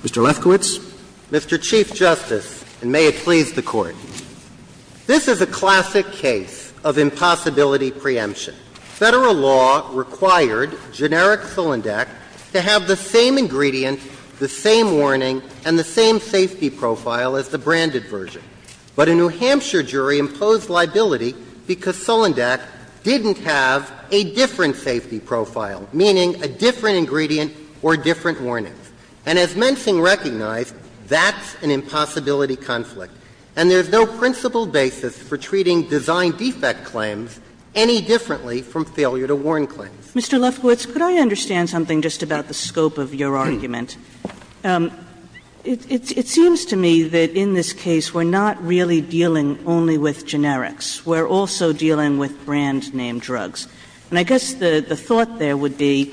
Mr. Lefkowitz. Mr. Chief Justice, and may it please the Court, this is a classic case of impossibility preemption. Federal law required generic Solandec to have the same ingredient, the same warning, and the same safety profile as the branded version. But a New Hampshire jury imposed liability because Solandec didn't have the same safety profile as the branded Solandec, and that's why we have a different safety profile, meaning a different ingredient or different warnings. And as Mensing recognized, that's an impossibility conflict, and there's no principled basis for treating design defect claims any differently from failure to warn claims. Mr. Lefkowitz, could I understand something just about the scope of your argument? It seems to me that in this case we're not really dealing only with generics. We're also dealing with brand-name drugs. And I guess the thought there would be,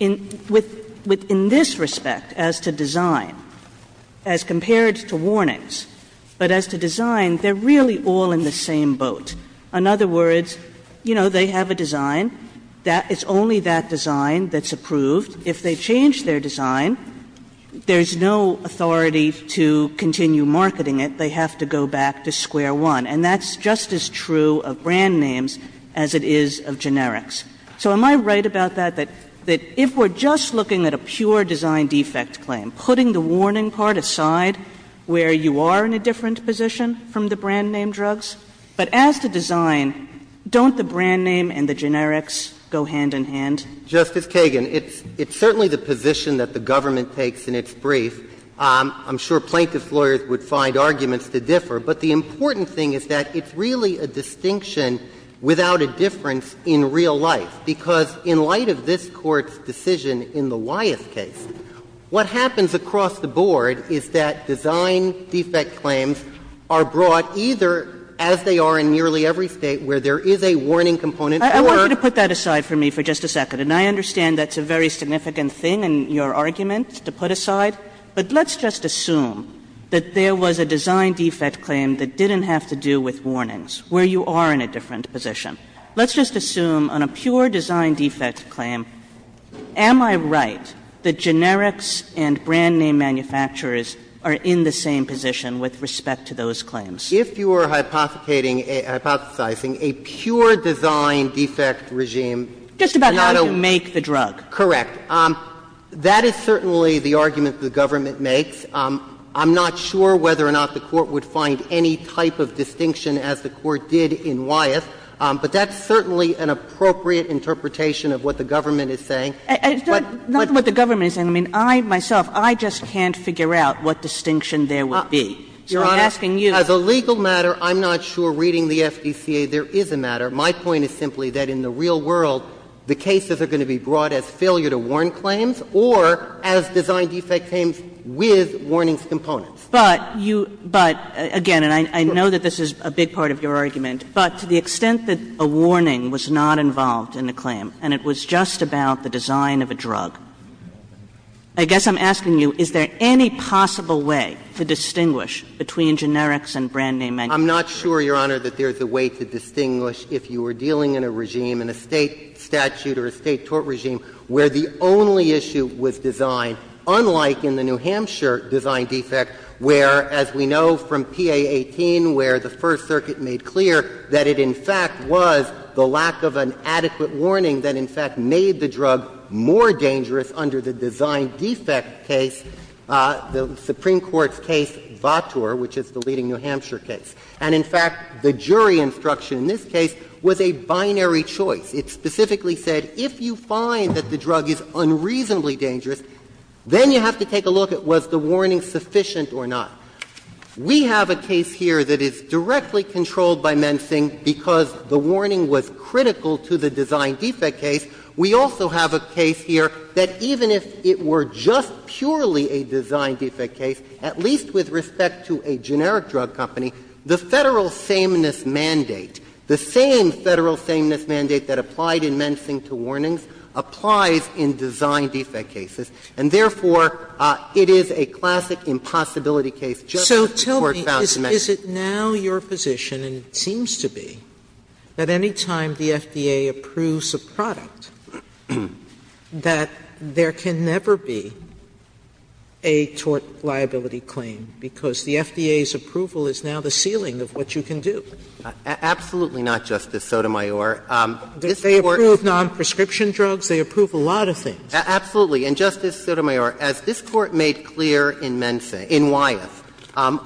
in this respect, as to design, as compared to warnings, but as to design, they're really all in the same boat. In other words, you know, they have a design. It's only that design that's approved. If they change their design, there's no authority to continue marketing it. They have to go back to square one. And that's just as true of brand names as it is of generics. So am I right about that, that if we're just looking at a pure design defect claim, I'm putting the warning part aside where you are in a different position from the brand-name drugs? But as to design, don't the brand name and the generics go hand in hand? Justice Kagan, it's certainly the position that the government takes in its brief. I'm sure plaintiff's lawyers would find arguments to differ. But the important thing is that it's really a distinction without a difference in real life, because in light of this Court's decision in the Wyeth case, what happens across the board is that design defect claims are brought either as they are in nearly every State, where there is a warning component, or they are brought as a design defect claim. Kagan I want you to put that aside for me for just a second. And I understand that's a very significant thing in your argument to put aside. But let's just assume that there was a design defect claim that didn't have to do with warnings, where you are in a different position. Let's just assume on a pure design defect claim, am I right that generics and brand-name manufacturers are in the same position with respect to those claims? If you are hypothesizing a pure design defect regime, it's not a one- Just about how you make the drug. Correct. That is certainly the argument the government makes. I'm not sure whether or not the Court would find any type of distinction as the Court did in Wyeth, but that's certainly an appropriate interpretation of what the government is saying. It's not what the government is saying. I mean, I myself, I just can't figure out what distinction there would be. Your Honor, as a legal matter, I'm not sure reading the FDCA there is a matter. My point is simply that in the real world, the cases are going to be brought as failure to warn claims or as design defect claims with warnings components. But you, but again, and I know that this is a big part of your argument, but to the extent that a warning was not involved in the claim and it was just about the design of a drug, I guess I'm asking you, is there any possible way to distinguish between generics and brand-name manufacturers? I'm not sure, Your Honor, that there's a way to distinguish if you were dealing in a regime, in a State statute or a State tort regime, where the only issue was design, unlike in the New Hampshire design defect, where, as we know from PA 18, where the First Circuit made clear that it, in fact, was the lack of an adequate warning that, in fact, made the drug more dangerous under the design defect case, the Supreme Court's case, Vautour, which is the leading New Hampshire case. And, in fact, the jury instruction in this case was a binary choice. It specifically said, if you find that the drug is unreasonably dangerous, then you have to take a look at was the warning sufficient or not. We have a case here that is directly controlled by Mensing because the warning was critical to the design defect case. We also have a case here that even if it were just purely a design defect case, at least with respect to a generic drug company, the Federal sameness mandate, the same Federal sameness mandate that applied in Mensing to warnings applies in design defect cases, and therefore, it is a classic impossibility case just as the Court found in Mensing. Sotomayor, is it now your position, and it seems to be, that any time the FDA approves a product, that there can never be a tort liability claim because the FDA's approval is now the ceiling of what you can do? Absolutely not, Justice Sotomayor. This Court's — They approve non-prescription drugs? They approve a lot of things. Absolutely. And, Justice Sotomayor, as this Court made clear in Mensing, in Wyeth, and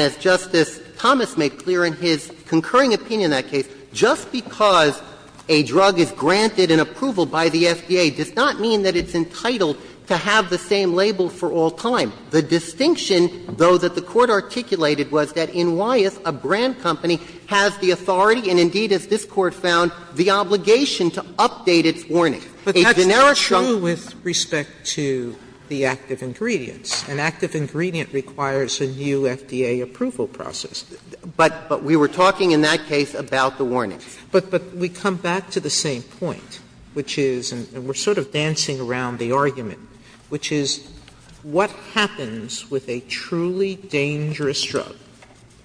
as Justice Thomas made clear in his concurring opinion in that case, just because a drug is granted an approval by the FDA does not mean that it's entitled to have the same label for all time. The distinction, though, that the Court articulated was that in Wyeth, a brand company has the authority, and indeed, as this Court found, the obligation to update its warnings. A generic company can't do that. But that's not true with respect to the active ingredients. An active ingredient requires a new FDA approval process. But we were talking in that case about the warnings. But we come back to the same point, which is — and we're sort of dancing around the argument, which is what happens with a truly dangerous drug,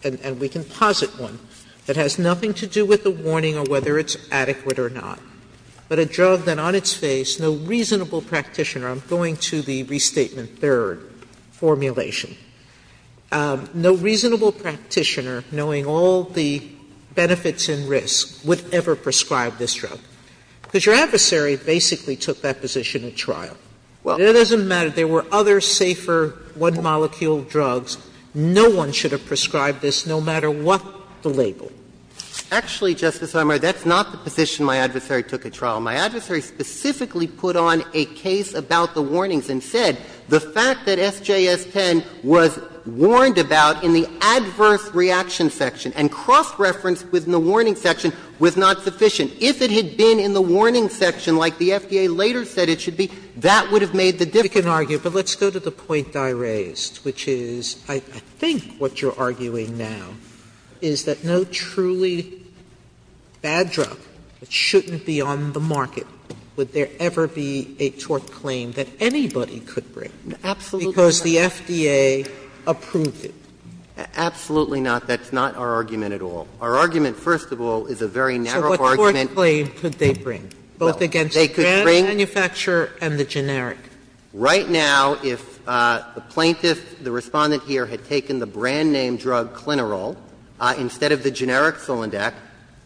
and we can posit one, that has nothing to do with the warning or whether it's adequate or not, but a drug that on its face no reasonable practitioner — I'm going to the Restatement III formulation — no reasonable practitioner, knowing all the benefits and risks, would ever prescribe this drug? Because your adversary basically took that position at trial. It doesn't matter. There were other safer one-molecule drugs. No one should have prescribed this, no matter what the label. Actually, Justice Sotomayor, that's not the position my adversary took at trial. My adversary specifically put on a case about the warnings and said the fact that SJS-10 was warned about in the adverse reaction section and cross-referenced within the warning section was not sufficient. If it had been in the warning section, like the FDA later said it should be, that would have made the difference. Sotomayor, but let's go to the point I raised, which is I think what you're arguing now is that no truly bad drug that shouldn't be on the market, would there ever be a tort claim that anybody could bring? Absolutely not. Because the FDA approved it. Absolutely not. That's not our argument at all. Our argument, first of all, is a very narrow argument. Sotomayor, so what tort claim could they bring, both against the brand manufacturer and the generic? Right now, if the plaintiff, the Respondent here, had taken the brand-name drug Clinirol instead of the generic Solandec,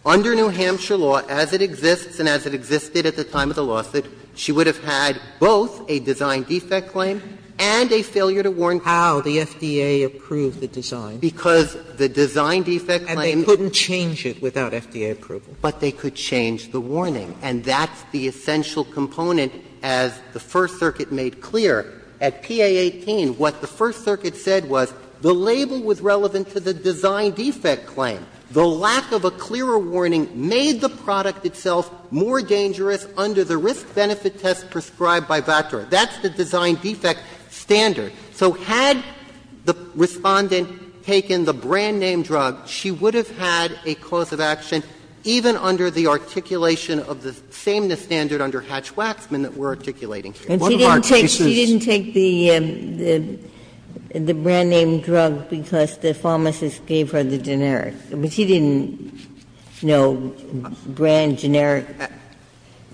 under New Hampshire law, as it exists and as it existed at the time of the lawsuit, she would have had both a design defect claim and a failure to warn clients. How the FDA approved the design. Because the design defect claim. And they couldn't change it without FDA approval. But they could change the warning. And that's the essential component, as the First Circuit made clear. At PA18, what the First Circuit said was the label was relevant to the design defect claim. The lack of a clearer warning made the product itself more dangerous under the risk-benefit test prescribed by VATOR. That's the design defect standard. So had the Respondent taken the brand-name drug, she would have had a cause of action even under the articulation of the sameness standard under Hatch-Waxman that we're articulating here. One of our cases — And she didn't take the brand-name drug because the pharmacist gave her the generic. She didn't know brand, generic.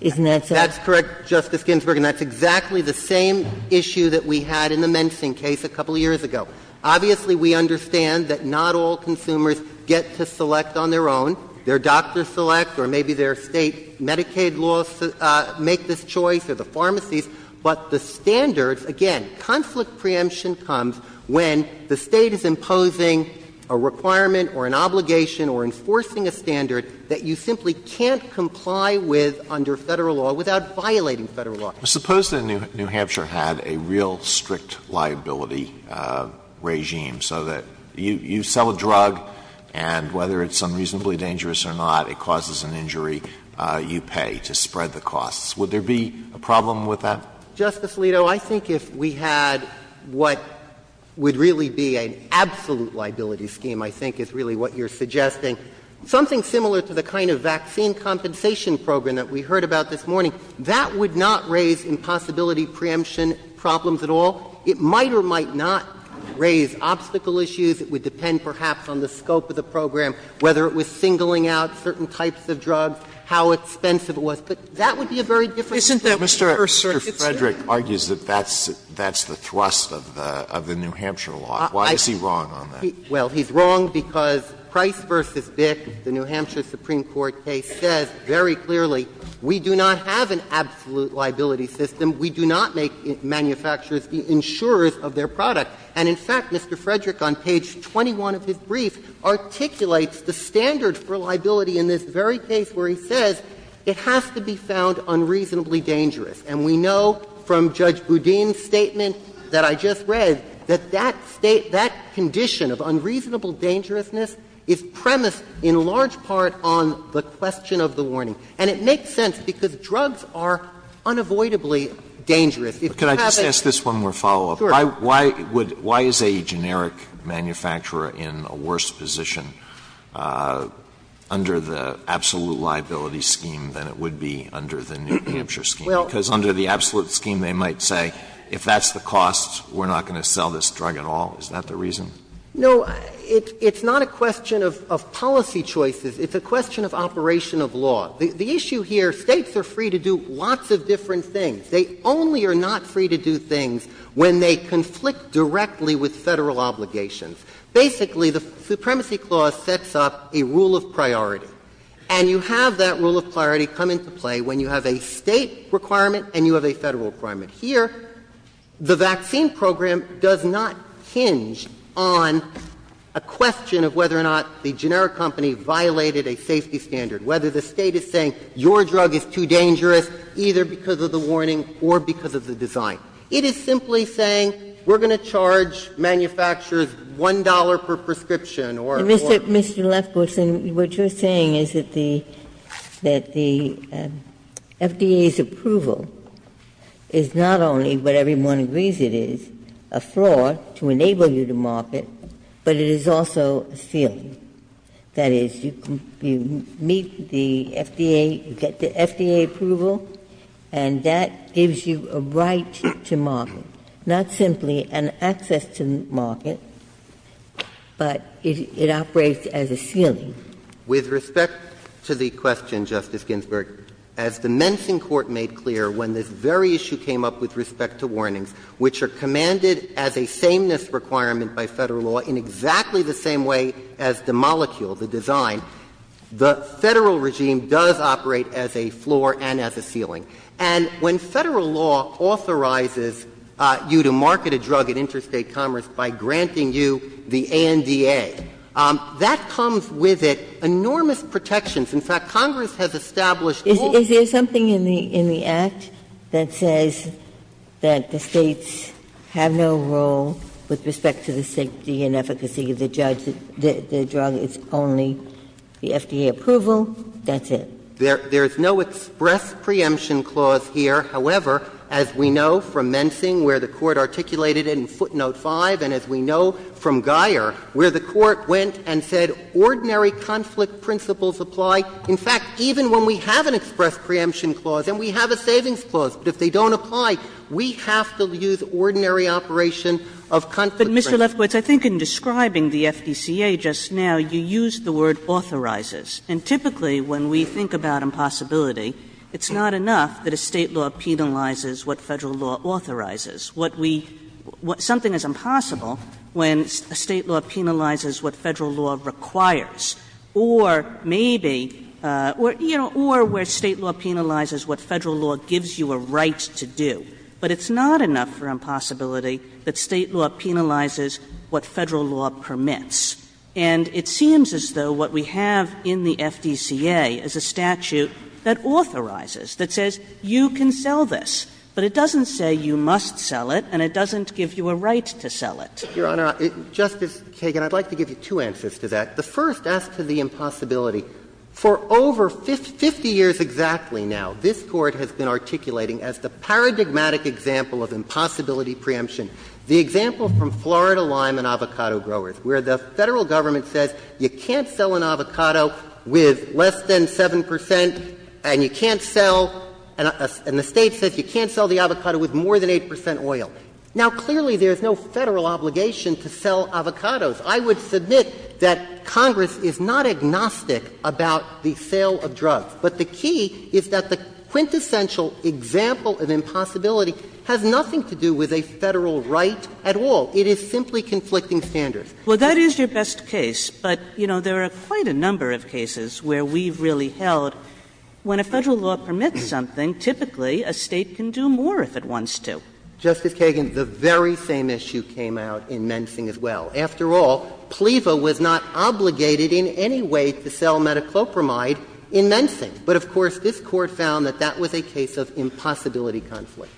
Isn't that so? That's correct, Justice Ginsburg. And that's exactly the same issue that we had in the Mensing case a couple of years ago. Obviously, we understand that not all consumers get to select on their own. Their doctors select or maybe their State Medicaid laws make this choice or the pharmacies. But the standards, again, conflict preemption comes when the State is imposing a requirement or an obligation or enforcing a standard that you simply can't comply with under Federal law without violating Federal law. Suppose that New Hampshire had a real strict liability regime so that you sell a drug and whether it's unreasonably dangerous or not, it causes an injury, you pay to spread the costs. Would there be a problem with that? Justice Alito, I think if we had what would really be an absolute liability scheme, I think is really what you're suggesting, something similar to the kind of vaccine compensation program that we heard about this morning, that would not raise impossibility preemption problems at all. It might or might not raise obstacle issues. It would depend perhaps on the scope of the program, whether it was singling out certain types of drugs, how expensive it was. But that would be a very different story. Sotomayor, Mr. Frederick argues that that's the thrust of the New Hampshire law. Why is he wrong on that? Well, he's wrong because Price v. Bick, the New Hampshire Supreme Court case, says very clearly we do not have an absolute liability system. We do not make manufacturers the insurers of their product. And in fact, Mr. Frederick, on page 21 of his brief, articulates the standard for liability in this very case where he says it has to be found unreasonably dangerous. And we know from Judge Boudin's statement that I just read that that condition of unreasonable dangerousness is premised in large part on the question of the warning. And it makes sense, because drugs are unavoidably dangerous. If you have a ---- Alito, could I just ask this one more follow-up? Sure. Why would ---- why is a generic manufacturer in a worse position under the absolute liability scheme than it would be under the New Hampshire scheme? Because under the absolute scheme, they might say, if that's the cost, we're not going to sell this drug at all. Is that the reason? No. It's not a question of policy choices. It's a question of operation of law. The issue here, States are free to do lots of different things. They only are not free to do things when they conflict directly with Federal obligations. Basically, the Supremacy Clause sets up a rule of priority. And you have that rule of priority come into play when you have a State requirement and you have a Federal requirement. Here, the vaccine program does not hinge on a question of whether or not the generic company violated a safety standard, whether the State is saying your drug is too dangerous either because of the warning or because of the design. It is simply saying we're going to charge manufacturers $1 per prescription or more. Mr. Lefkowitz, what you're saying is that the FDA's approval is not only what everyone agrees it is, a flaw to enable you to market, but it is also a failure. That is, you meet the FDA, you get the FDA approval, and that gives you a right to market, not simply an access to market, but it operates as a ceiling. With respect to the question, Justice Ginsburg, as the Mensing Court made clear when this very issue came up with respect to warnings, which are commanded as a sameness requirement by Federal law in exactly the same way as the molecule, the design, the Federal regime does operate as a floor and as a ceiling. And when Federal law authorizes you to market a drug at Interstate Commerce by granting you the ANDA, that comes with it enormous protections. Is there something in the Act that says that the States have no role with respect to the safety and efficacy of the drug, it's only the FDA approval, that's it? There is no express preemption clause here. However, as we know from Mensing where the Court articulated it in footnote 5, and as we know from Guyer where the Court went and said ordinary conflict principles apply, in fact, even when we have an express preemption clause and we have a savings clause, but if they don't apply, we have to use ordinary operation of conflict principles. Kagan, I think in describing the FDCA just now, you used the word authorizes. And typically when we think about impossibility, it's not enough that a State law penalizes what Federal law authorizes. What we – something is impossible when a State law penalizes what Federal law requires. Or maybe, you know, or where State law penalizes what Federal law gives you a right to do. But it's not enough for impossibility that State law penalizes what Federal law permits. And it seems as though what we have in the FDCA is a statute that authorizes, that says you can sell this, but it doesn't say you must sell it and it doesn't give you a right to sell it. Your Honor, Justice Kagan, I'd like to give you two answers to that. The first asks to the impossibility. For over 50 years exactly now, this Court has been articulating as the paradigmatic example of impossibility preemption, the example from Florida lime and avocado growers, where the Federal government says you can't sell an avocado with less than 7 percent and you can't sell – and the State says you can't sell the avocado with more than 8 percent oil. Now, clearly, there is no Federal obligation to sell avocados. I would submit that Congress is not agnostic about the sale of drugs. But the key is that the quintessential example of impossibility has nothing to do with a Federal right at all. It is simply conflicting standards. Kagan. Kagan. Well, that is your best case. But, you know, there are quite a number of cases where we've really held when a Federal law permits something, typically a State can do more if it wants to. Justice Kagan, the very same issue came out in Mensing as well. After all, PLEVA was not obligated in any way to sell metoclopramide in Mensing. But, of course, this Court found that that was a case of impossibility conflict.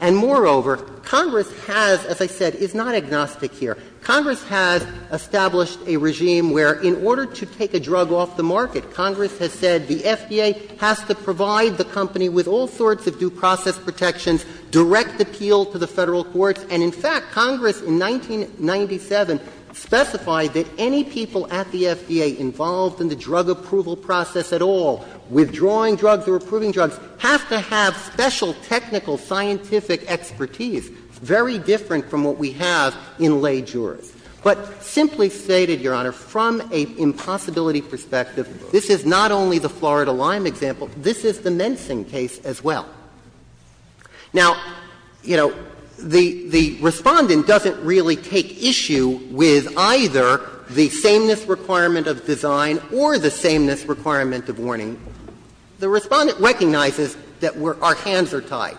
And, moreover, Congress has, as I said, is not agnostic here. Congress has established a regime where in order to take a drug off the market, Congress has said the FDA has to provide the company with all sorts of due process protections, direct appeal to the Federal courts. And, in fact, Congress in 1997 specified that any people at the FDA involved in the drug approval process at all, withdrawing drugs or approving drugs, have to have special technical scientific expertise, very different from what we have in lay jurors. But simply stated, Your Honor, from an impossibility perspective, this is not only the Florida Lyme example. This is the Mensing case as well. Now, you know, the Respondent doesn't really take issue with either the sameness requirement of design or the sameness requirement of warning. The Respondent recognizes that our hands are tied.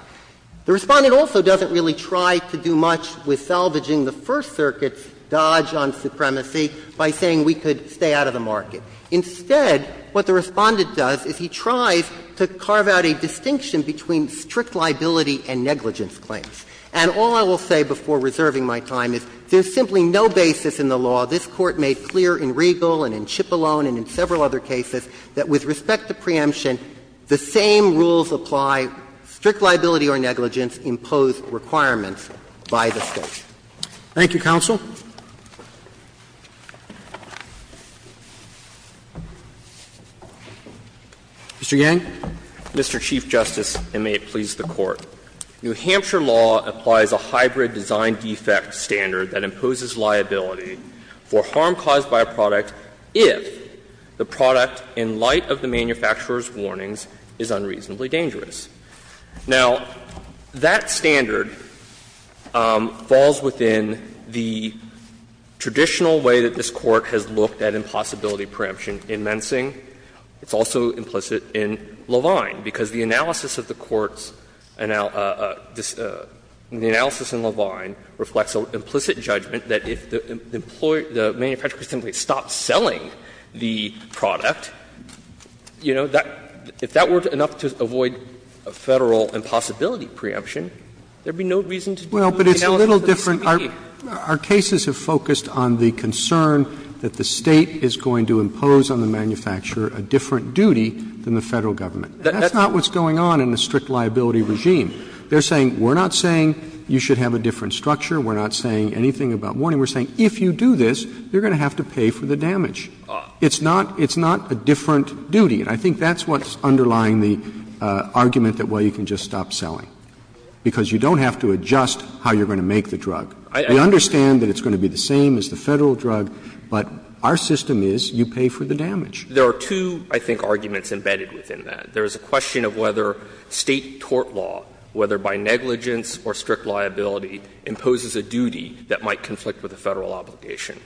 The Respondent also doesn't really try to do much with salvaging the First Circuit's dodge on supremacy by saying we could stay out of the market. Instead, what the Respondent does is he tries to carve out a distinction between strict liability and negligence claims. And all I will say before reserving my time is there's simply no basis in the law. This Court made clear in Regal and in Cipollone and in several other cases that with respect to preemption, the same rules apply, strict liability or negligence impose requirements by the State. Roberts. Thank you, counsel. Mr. Yang. Mr. Chief Justice, and may it please the Court. New Hampshire law applies a hybrid design defect standard that imposes liability for harm caused by a product if the product, in light of the manufacturer's warnings, is unreasonably dangerous. Now, that standard falls within the traditional way that this Court has looked at impossibility preemption in Mensing. It's also implicit in Levine, because the analysis of the Court's analysis in Levine reflects an implicit judgment that if the manufacturer simply stops selling the product, you know, if that were enough to avoid a Federal impossibility preemption, there would be no reason to do the analysis of the speech. Roberts. Well, but it's a little different. Our cases have focused on the concern that the State is going to impose on the manufacturer a different duty than the Federal Government. That's not what's going on in a strict liability regime. They're saying, we're not saying you should have a different structure, we're not saying anything about warning, we're saying if you do this, you're going to have to pay for the damage. It's not a different duty, and I think that's what's underlying the argument that, well, you can just stop selling, because you don't have to adjust how you're going to make the drug. We understand that it's going to be the same as the Federal drug, but our system is you pay for the damage. There are two, I think, arguments embedded within that. There is a question of whether State tort law, whether by negligence or strict liability, imposes a duty that might conflict with a Federal obligation.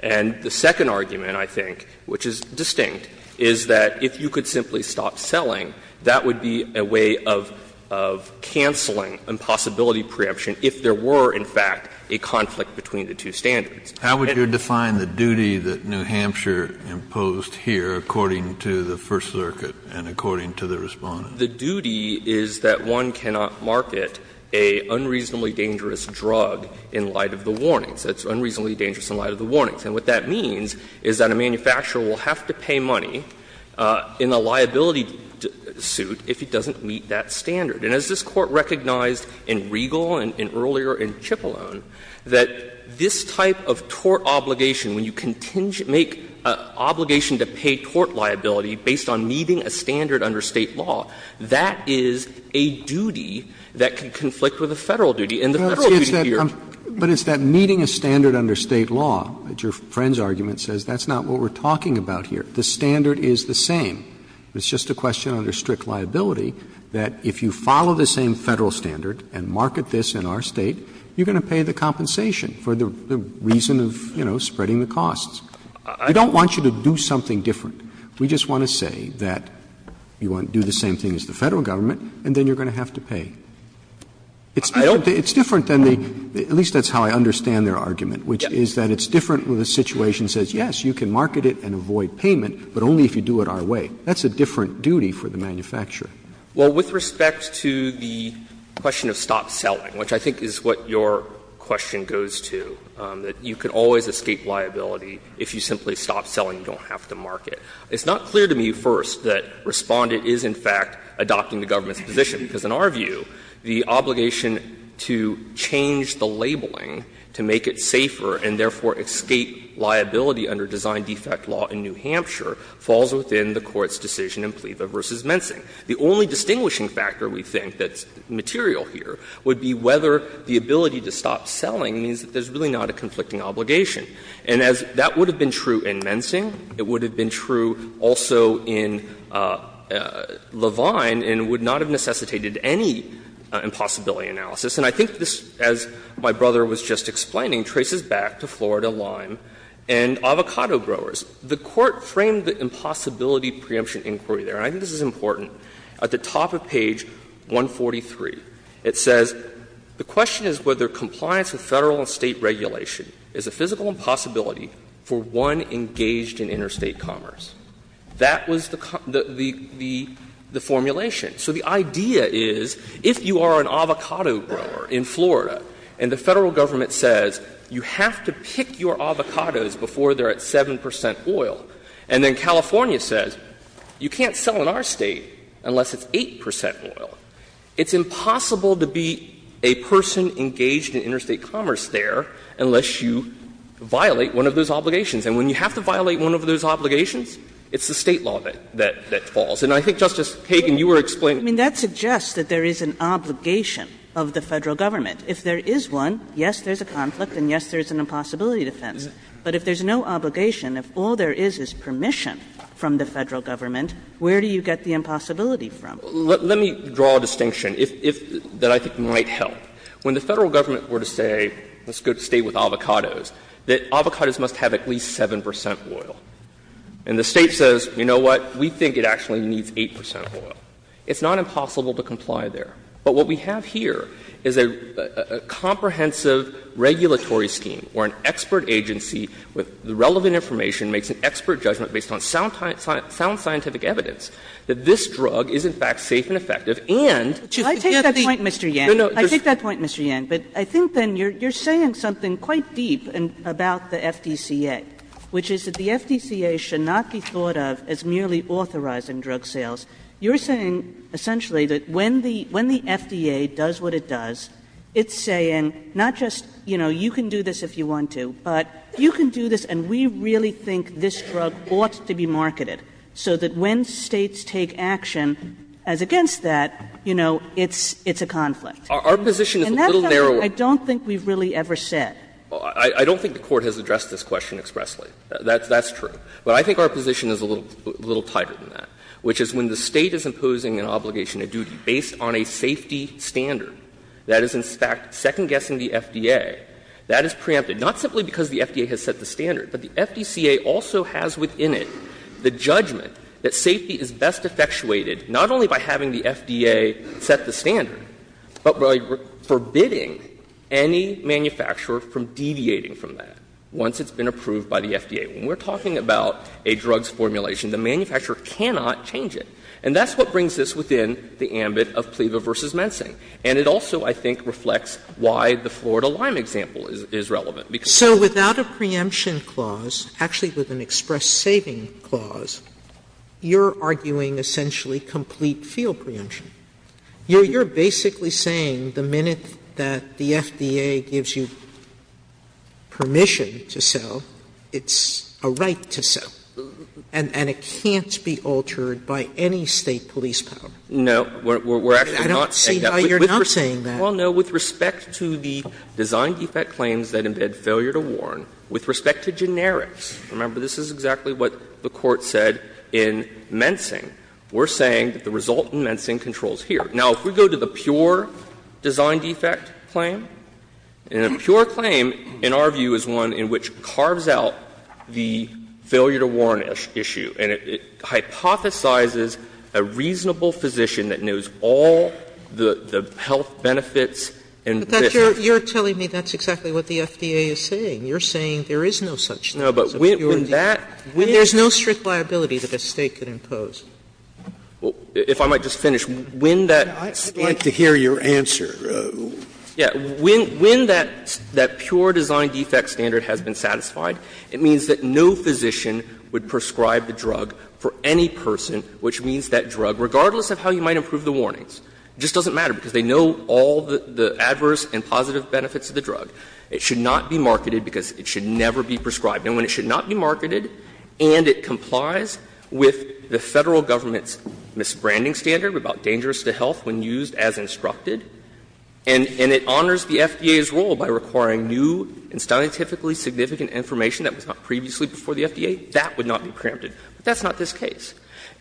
And the second argument, I think, which is distinct, is that if you could simply stop selling, that would be a way of cancelling impossibility preemption if there were in fact a conflict between the two standards. Kennedy. Kennedy. Kennedy How would you define the duty that New Hampshire imposed here according to the First Circuit and according to the Respondent? Yang The duty is that one cannot market a unreasonably dangerous drug in light of the warnings. It's unreasonably dangerous in light of the warnings. And what that means is that a manufacturer will have to pay money in a liability suit if it doesn't meet that standard. And as this Court recognized in Regal and earlier in Cipollone, that this type of tort obligation, when you continue to make an obligation to pay tort liability based on meeting a standard under State law, that is a duty that can conflict with a Federal duty and the Federal duty here. Roberts But it's that meeting a standard under State law, that your friend's argument says, that's not what we're talking about here. The standard is the same. It's just a question under strict liability that if you follow the same Federal standard and market this in our State, you're going to pay the compensation for the reason of, you know, spreading the costs. We don't want you to do something different. We just want to say that you want to do the same thing as the Federal government and then you're going to have to pay. It's different than the – at least that's how I understand their argument, which is that it's different when the situation says, yes, you can market it and avoid payment, but only if you do it our way. That's a different duty for the manufacturer. Yang Well, with respect to the question of stop selling, which I think is what your question goes to, that you can always escape liability if you simply stop selling, you don't have to market. It's not clear to me first that Respondent is in fact adopting the government's position, because in our view, the obligation to change the labeling to make it safer and therefore escape liability under design defect law in New Hampshire falls within the Court's decision in Plieva v. Mensing. The only distinguishing factor, we think, that's material here would be whether the ability to stop selling means that there's really not a conflicting obligation. And as that would have been true in Mensing, it would have been true also in Levine and would not have necessitated any impossibility analysis. And I think this, as my brother was just explaining, traces back to Florida Lime and avocado growers. The Court framed the impossibility preemption inquiry there, and I think this is important, at the top of page 143. It says, ''The question is whether compliance with Federal and State regulation is a physical impossibility for one engaged in interstate commerce. That was the formulation. So the idea is, if you are an avocado grower in Florida, and the Federal government says you have to pick your avocados before they're at 7 percent oil, and then California says you can't sell in our State unless it's 8 percent oil, it's impossible to be a person engaged in interstate commerce there unless you violate one of those obligations. And when you have to violate one of those obligations, it's the State law that falls. And I think, Justice Kagan, you were explaining. Kagan, that suggests that there is an obligation of the Federal government. If there is one, yes, there's a conflict and, yes, there's an impossibility defense. But if there's no obligation, if all there is is permission from the Federal government, where do you get the impossibility from? Let me draw a distinction that I think might help. When the Federal government were to say, let's go to State with avocados, that avocados must have at least 7 percent oil. And the State says, you know what, we think it actually needs 8 percent oil. It's not impossible to comply there. But what we have here is a comprehensive regulatory scheme where an expert agency with the relevant information makes an expert judgment based on sound scientific evidence that this drug is, in fact, safe and effective, and just to get the other You're saying something quite deep about the FDCA, which is that the FDCA should not be thought of as merely authorizing drug sales. You're saying essentially that when the FDA does what it does, it's saying not just, you know, you can do this if you want to, but you can do this and we really think this drug ought to be marketed so that when States take action as against that, you know, it's a conflict. And that's not what the FDCA really ever said. Well, I don't think the Court has addressed this question expressly. That's true. But I think our position is a little tighter than that, which is when the State is imposing an obligation of duty based on a safety standard that is, in fact, second guessing the FDA, that is preempted, not simply because the FDA has set the standard, but the FDCA also has within it the judgment that safety is best effectuated not only by having the FDA set the standard, but by forbidding any manufacturer from deviating from that once it's been approved by the FDA. When we're talking about a drugs formulation, the manufacturer cannot change it. And that's what brings this within the ambit of PLEVA v. Mensing. And it also, I think, reflects why the Florida Lyme example is relevant. Sotomayor, So without a preemption clause, actually with an express saving clause, you're arguing essentially complete field preemption. You're basically saying the minute that the FDA gives you permission to sell, it's a right to sell, and it can't be altered by any State police power. No, we're actually not saying that. I don't see how you're not saying that. Well, no, with respect to the design defect claims that embed failure to warn, with This is exactly what the Court said in Mensing. We're saying that the result in Mensing controls here. Now, if we go to the pure design defect claim, and a pure claim in our view is one in which carves out the failure to warn issue, and it hypothesizes a reasonable physician that knows all the health benefits and benefits. But that's your – you're telling me that's exactly what the FDA is saying. You're saying there is no such thing as a pure defect. There's no strict liability that a State could impose. If I might just finish. When that – I'd like to hear your answer. Yeah. When that pure design defect standard has been satisfied, it means that no physician would prescribe the drug for any person, which means that drug, regardless of how you might improve the warnings, just doesn't matter because they know all the adverse and positive benefits of the drug. It should not be marketed because it should never be prescribed. And when it should not be marketed and it complies with the Federal Government's misbranding standard about dangerous to health when used as instructed, and it honors the FDA's role by requiring new and scientifically significant information that was not previously before the FDA, that would not be preempted. But that's not this case.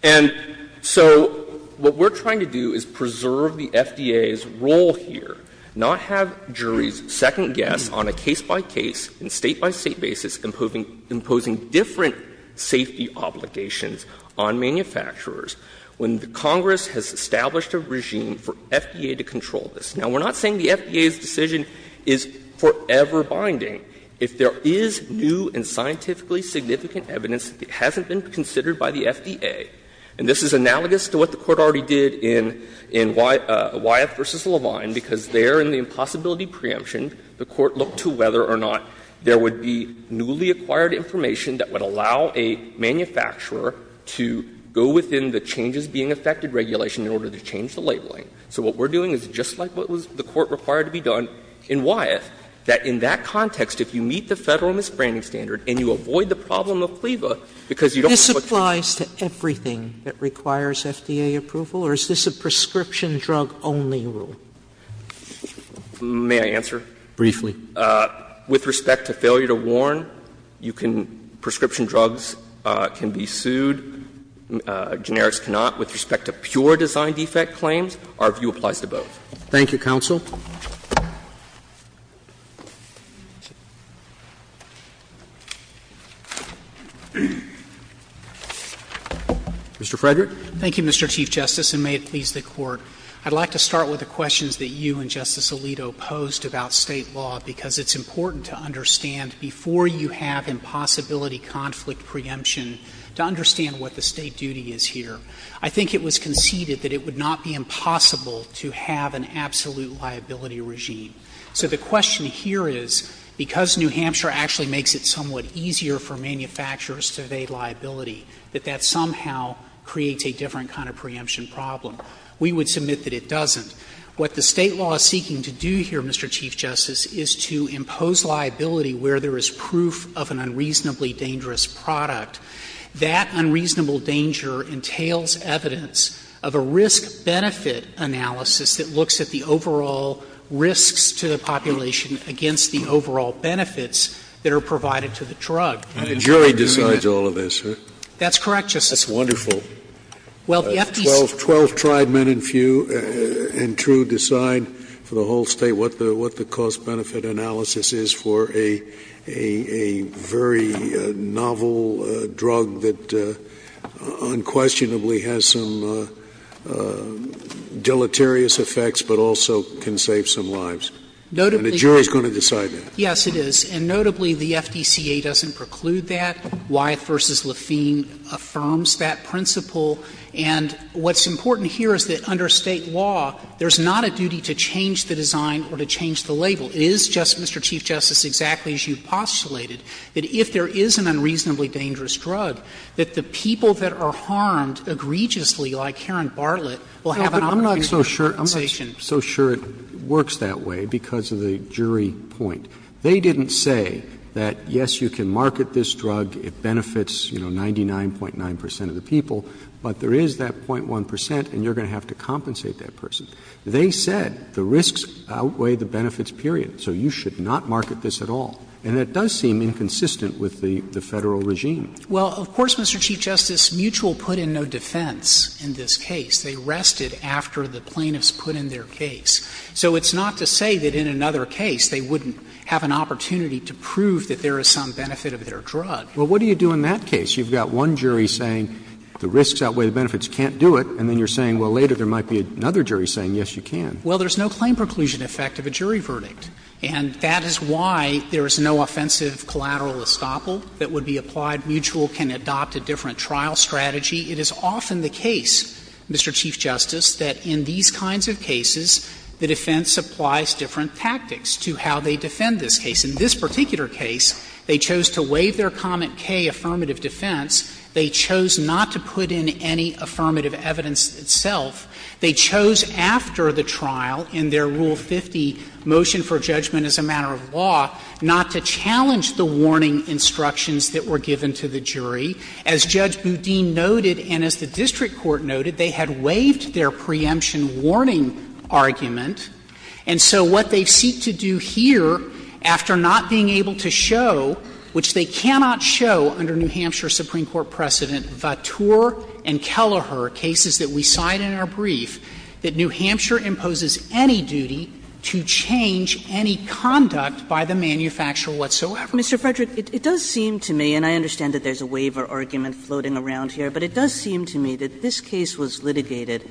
And so what we're trying to do is preserve the FDA's role here, not have juries' second guess on a case-by-case and State-by-State basis imposing different safety obligations on manufacturers when Congress has established a regime for FDA to control this. Now, we're not saying the FDA's decision is forever binding. If there is new and scientifically significant evidence that hasn't been considered by the FDA, and this is analogous to what the Court already did in Wyeth v. Levine because there in the impossibility preemption, the Court looked to whether or not there would be newly acquired information that would allow a manufacturer to go within the changes-being-affected regulation in order to change the labeling. So what we're doing is just like what the Court required to be done in Wyeth, that in that context, if you meet the Federal misbranding standard and you avoid the problem of cleavage because you don't know what to do. Sotomayore, this applies to everything that requires FDA approval, or is this a prescription drug only rule? May I answer? Briefly. With respect to failure to warn, you can — prescription drugs can be sued, generics cannot. With respect to pure design defect claims, our view applies to both. Thank you, counsel. Mr. Frederick. Thank you, Mr. Chief Justice, and may it please the Court. I'd like to start with the questions that you and Justice Alito posed about State law, because it's important to understand, before you have impossibility conflict preemption, to understand what the State duty is here. I think it was conceded that it would not be impossible to have an absolute liability regime. So the question here is, because New Hampshire actually makes it somewhat easier for manufacturers to evade liability, that that somehow creates a different kind of preemption problem. We would submit that it doesn't. What the State law is seeking to do here, Mr. Chief Justice, is to impose liability where there is proof of an unreasonably dangerous product. That unreasonable danger entails evidence of a risk-benefit analysis that looks at the overall risks to the population against the overall benefits that are provided to the drug. And the jury decides all of this, right? That's correct, Justice Scalia. That's wonderful. Well, the FDCA doesn't preclude that. 12 tried men and few and true decide for the whole State what the cost-benefit analysis is for a very novel drug that unquestionably has some deleterious effects, but also can save some lives. And the jury is going to decide that. Yes, it is. And notably, the FDCA doesn't preclude that. Wyeth v. Lafine affirms that principle. And what's important here is that under State law, there's not a duty to change the design or to change the label. It is just, Mr. Chief Justice, exactly as you postulated, that if there is an unreasonably dangerous drug, that the people that are harmed egregiously, like Karen Bartlett, will have an opportunity to compensation. I'm not so sure it works that way because of the jury point. They didn't say that, yes, you can market this drug, it benefits, you know, 99.9 percent of the people, but there is that 0.1 percent and you're going to have to compensate that person. They said the risks outweigh the benefits, period. So you should not market this at all. And that does seem inconsistent with the Federal regime. Well, of course, Mr. Chief Justice, Mutual put in no defense in this case. They rested after the plaintiffs put in their case. So it's not to say that in another case they wouldn't have an opportunity to prove that there is some benefit of their drug. Well, what do you do in that case? You've got one jury saying the risks outweigh the benefits, you can't do it, and then you're saying, well, later there might be another jury saying, yes, you can. Well, there's no claim preclusion effect of a jury verdict. And that is why there is no offensive collateral estoppel that would be applied. Mutual can adopt a different trial strategy. It is often the case, Mr. Chief Justice, that in these kinds of cases the defense applies different tactics to how they defend this case. In this particular case, they chose to waive their comment K affirmative defense, they chose not to put in any affirmative evidence itself, they chose after the trial in their Rule 50 motion for judgment as a matter of law not to challenge the warning instructions that were given to the jury. As Judge Boudin noted and as the district court noted, they had waived their preemption warning argument. And so what they seek to do here, after not being able to show, which they cannot show under New Hampshire Supreme Court precedent, Vateur and Kelleher cases that we cite in our brief, that New Hampshire imposes any duty to change any conduct by the manufacturer whatsoever. Mr. Frederick, it does seem to me, and I understand that there is a waiver argument floating around here, but it does seem to me that this case was litigated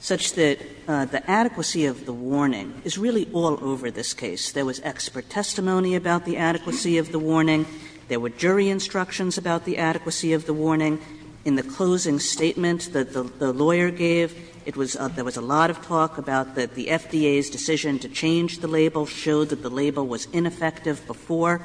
such that the adequacy of the warning is really all over this case. There was expert testimony about the adequacy of the warning. There were jury instructions about the adequacy of the warning. In the closing statement that the lawyer gave, it was of there was a lot of talk about that the FDA's decision to change the label showed that the label was ineffective before.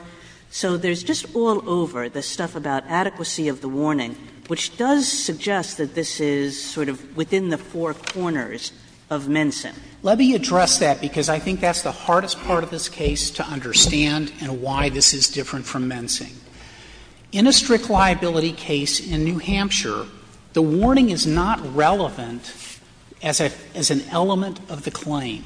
So there's just all over the stuff about adequacy of the warning, which does suggest that this is sort of within the four corners of Mensing. Frederick, Let me address that, because I think that's the hardest part of this case to understand and why this is different from Mensing. In a strict liability case in New Hampshire, the warning is not relevant as an element of the claim.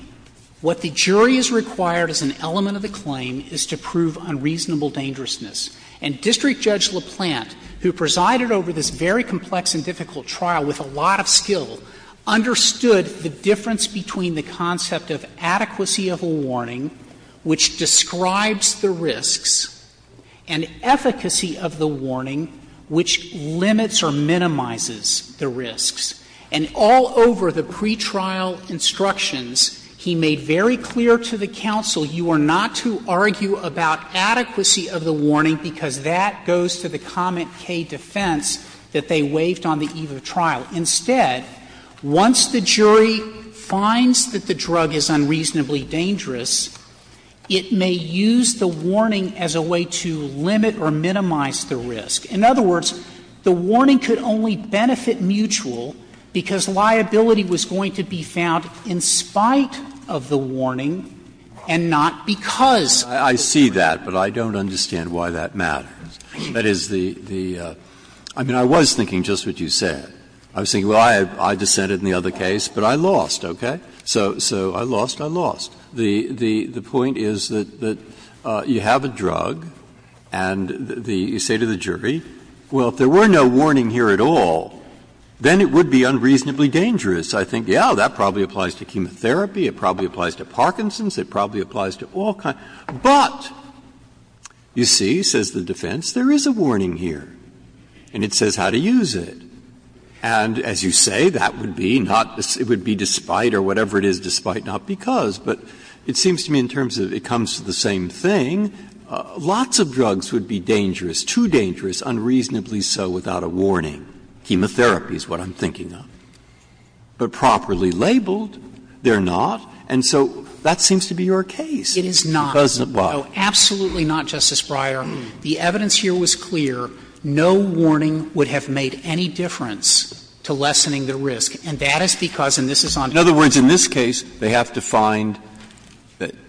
What the jury has required as an element of the claim is to prove unreasonable dangerousness. And District Judge LaPlante, who presided over this very complex and difficult trial with a lot of skill, understood the difference between the concept of adequacy of a warning, which describes the risks, and efficacy of the warning, which limits or minimizes the risks. And all over the pretrial instructions, he made very clear to the counsel, you are not to argue about adequacy of the warning, because that goes to the comment, K, defense, that they waived on the eve of trial. Instead, once the jury finds that the drug is unreasonably dangerous, it may use the warning as a way to limit or minimize the risk. In other words, the warning could only benefit Mutual because liability was going to be found in spite of the warning and not because. Breyer, I see that, but I don't understand why that matters. That is the the – I mean, I was thinking just what you said. I was thinking, well, I dissented in the other case, but I lost, okay? So I lost, I lost. The point is that you have a drug and you say to the jury, well, if there were no warning here at all, then it would be unreasonably dangerous. I think, yeah, that probably applies to chemotherapy, it probably applies to Parkinson's, it probably applies to all kinds. But, you see, says the defense, there is a warning here, and it says how to use it. And as you say, that would be not – it would be despite or whatever it is despite, not because, but it seems to me in terms of it comes to the same thing, lots of drugs would be dangerous, too dangerous, unreasonably so without a warning. Chemotherapy is what I'm thinking of. But properly labeled, they're not, and so that seems to be your case. It is not. It doesn't, why? No, absolutely not, Justice Breyer. The evidence here was clear. No warning would have made any difference to lessening the risk, and that is because in other words, in this case, they have to find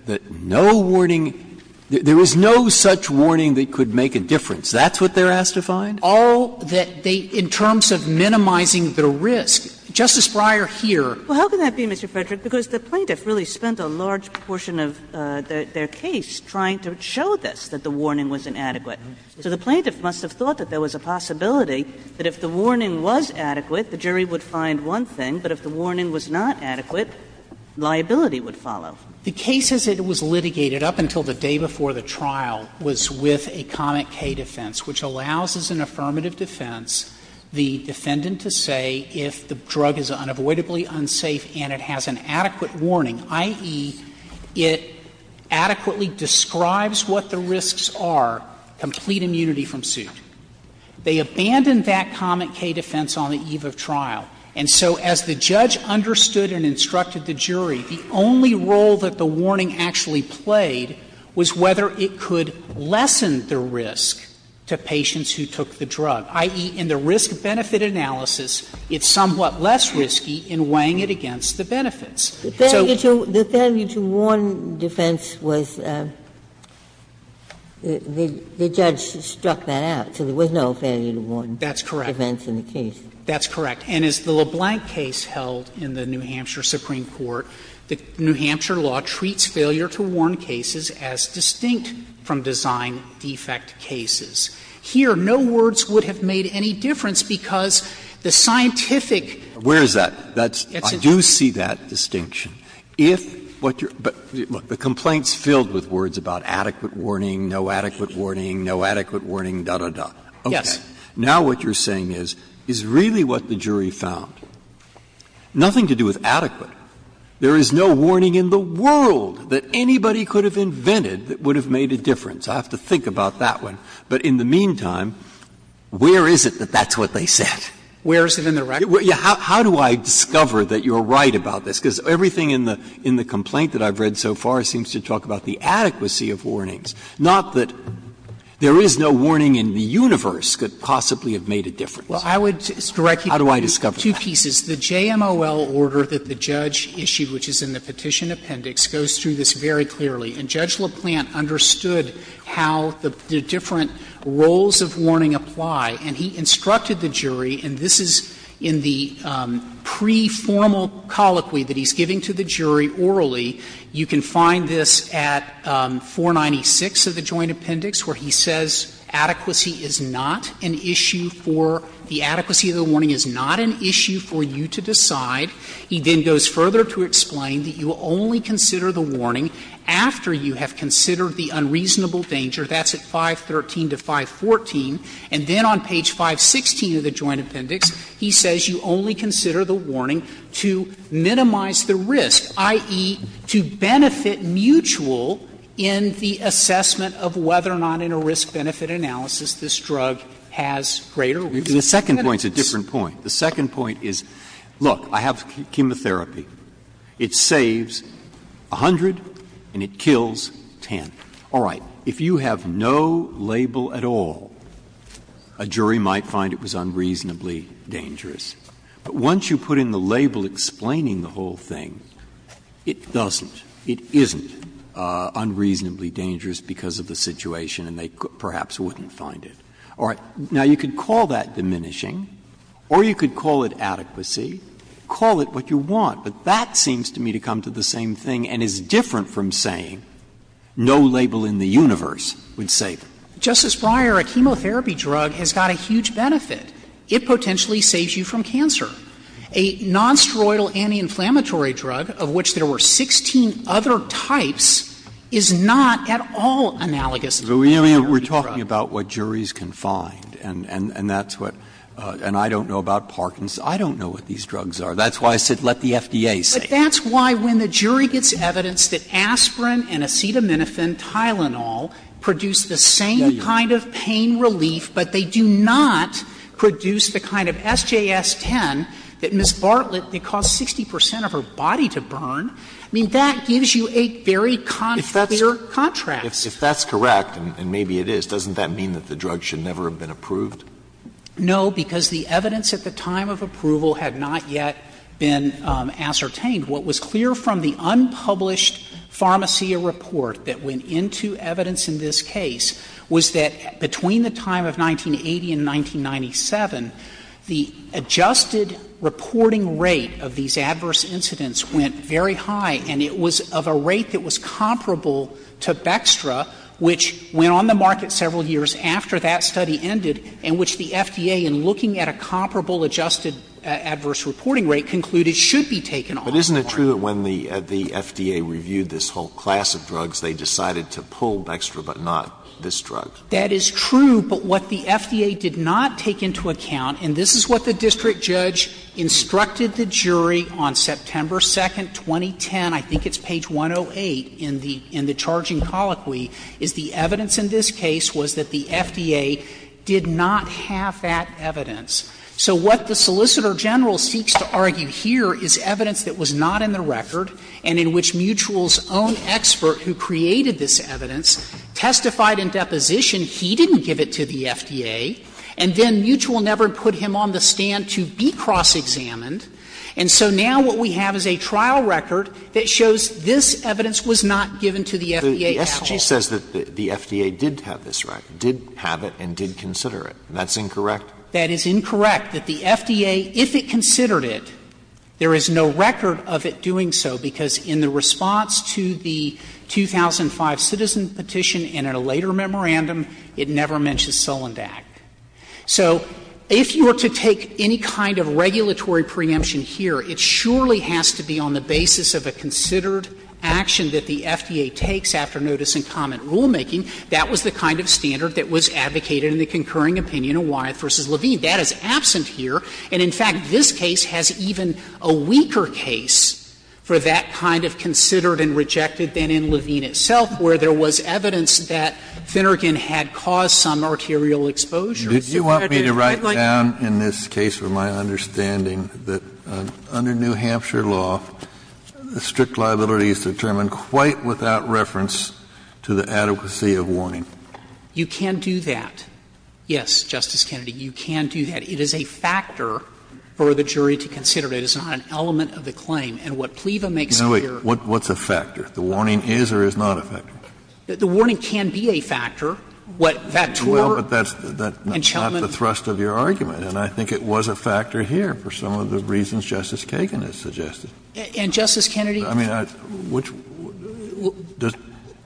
that no warning, there was no such warning that could make a difference. That's what they're asked to find? All that they, in terms of minimizing the risk, Justice Breyer here. Well, how can that be, Mr. Frederick? Because the plaintiff really spent a large portion of their case trying to show this, that the warning was inadequate. So the plaintiff must have thought that there was a possibility that if the warning was adequate, the jury would find one thing, but if the warning was not adequate, liability would follow. The case as it was litigated up until the day before the trial was with a comment K defense, which allows as an affirmative defense the defendant to say if the drug is unavoidably unsafe and it has an adequate warning, i.e., it adequately describes what the risks are, complete immunity from suit. They abandoned that comment K defense on the eve of trial. And so as the judge understood and instructed the jury, the only role that the warning actually played was whether it could lessen the risk to patients who took the drug, i.e., in the risk-benefit analysis, it's somewhat less risky in weighing it against the benefits. Ginsburg. The failure to warn defense was the judge struck that out, so there was no failure to warn defense in the case. That's correct. And as the LeBlanc case held in the New Hampshire Supreme Court, the New Hampshire law treats failure to warn cases as distinct from design-defect cases. Here, no words would have made any difference because the scientific. Where is that? I do see that distinction. If what you're – look, the complaint's filled with words about adequate warning, no adequate warning, no adequate warning, da, da, da. Okay. Now what you're saying is, is really what the jury found, nothing to do with adequate. There is no warning in the world that anybody could have invented that would have made a difference. I have to think about that one. But in the meantime, where is it that that's what they said? Where is it in the record? How do I discover that you're right about this? Because everything in the complaint that I've read so far seems to talk about the adequacy of warnings, not that there is no warning in the universe could possibly have made a difference. Well, I would direct you to two pieces. The JMOL order that the judge issued, which is in the Petition Appendix, goes through this very clearly. And Judge LeBlanc understood how the different roles of warning apply, and he instructed the jury, and this is in the pre-formal colloquy that he's giving to the jury orally. You can find this at 496 of the Joint Appendix, where he says adequacy is not an issue for the adequacy of the warning is not an issue for you to decide. He then goes further to explain that you will only consider the warning after you have considered the unreasonable danger. That's at 513 to 514. And then on page 516 of the Joint Appendix, he says you only consider the warning to minimize the risk, i.e., to benefit mutual in the assessment of whether or not in a risk-benefit analysis this drug has greater risk. Breyer. The second point is a different point. The second point is, look, I have chemotherapy. It saves 100 and it kills 10. All right. If you have no label at all, a jury might find it was unreasonably dangerous. But once you put in the label explaining the whole thing, it doesn't, it isn't unreasonably dangerous because of the situation, and they perhaps wouldn't find it. All right. Now, you could call that diminishing, or you could call it adequacy, call it what you want, but that seems to me to come to the same thing and is different from saying no label in the universe would save it. Justice Breyer, a chemotherapy drug has got a huge benefit. It potentially saves you from cancer. A nonsteroidal anti-inflammatory drug, of which there were 16 other types, is not at all analogous to a chemotherapy drug. We're talking about what juries can find, and that's what — and I don't know about Parkinson's. I don't know what these drugs are. That's why I said let the FDA say it. That's why when the jury gets evidence that aspirin and acetaminophen Tylenol produce the same kind of pain relief, but they do not produce the kind of SJS-10 that Ms. Bartlett, it costs 60 percent of her body to burn, I mean, that gives you a very clear contrast. If that's correct, and maybe it is, doesn't that mean that the drug should never have been approved? No, because the evidence at the time of approval had not yet been ascertained. What was clear from the unpublished Pharmacia report that went into evidence in this case was that between the time of 1980 and 1997, the adjusted reporting rate of these adverse incidents went very high, and it was of a rate that was comparable to Bextra, which went on the market several years after that study ended, and which the FDA, in looking at a comparable adjusted adverse reporting rate, concluded should be taken off. But isn't it true that when the FDA reviewed this whole class of drugs, they decided to pull Bextra, but not this drug? That is true, but what the FDA did not take into account, and this is what the district judge instructed the jury on September 2, 2010, I think it's page 108 in the charging colloquy, is the evidence in this case was that the FDA did not have that evidence. So what the Solicitor General seeks to argue here is evidence that was not in the record, and in which Mutual's own expert who created this evidence testified in deposition he didn't give it to the FDA, and then Mutual never put him on the stand to be cross-examined, and so now what we have is a trial record that shows this evidence was not given to the FDA at all. Alitos, the SG says that the FDA did have this record, did have it, and did consider it. That's incorrect? That is incorrect, that the FDA, if it considered it, there is no record of it doing so, because in the response to the 2005 citizen petition and in a later memorandum, it never mentions Solondak. So if you were to take any kind of regulatory preemption here, it surely has to be on the basis of a considered action that the FDA takes after notice and comment rulemaking. That was the kind of standard that was advocated in the concurring opinion of Wyeth v. Levine. That is absent here. And in fact, this case has even a weaker case for that kind of considered and rejected than in Levine itself, where there was evidence that Finnegan had caused some arterial Kennedy, I'd like to ask you a question about that. Kennedy, did you want me to write down in this case, from my understanding, that under New Hampshire law, strict liability is determined quite without reference to the adequacy of warning? You can do that. Yes, Justice Kennedy, you can do that. It is a factor for the jury to consider. It is not an element of the claim. And what PLEVA makes clear here is that the warning is or is not a factor. The warning can be a factor. What, that tour and Chelman? Well, but that's not the thrust of your argument. And I think it was a factor here for some of the reasons Justice Kagan has suggested. And, Justice Kennedy? I mean, which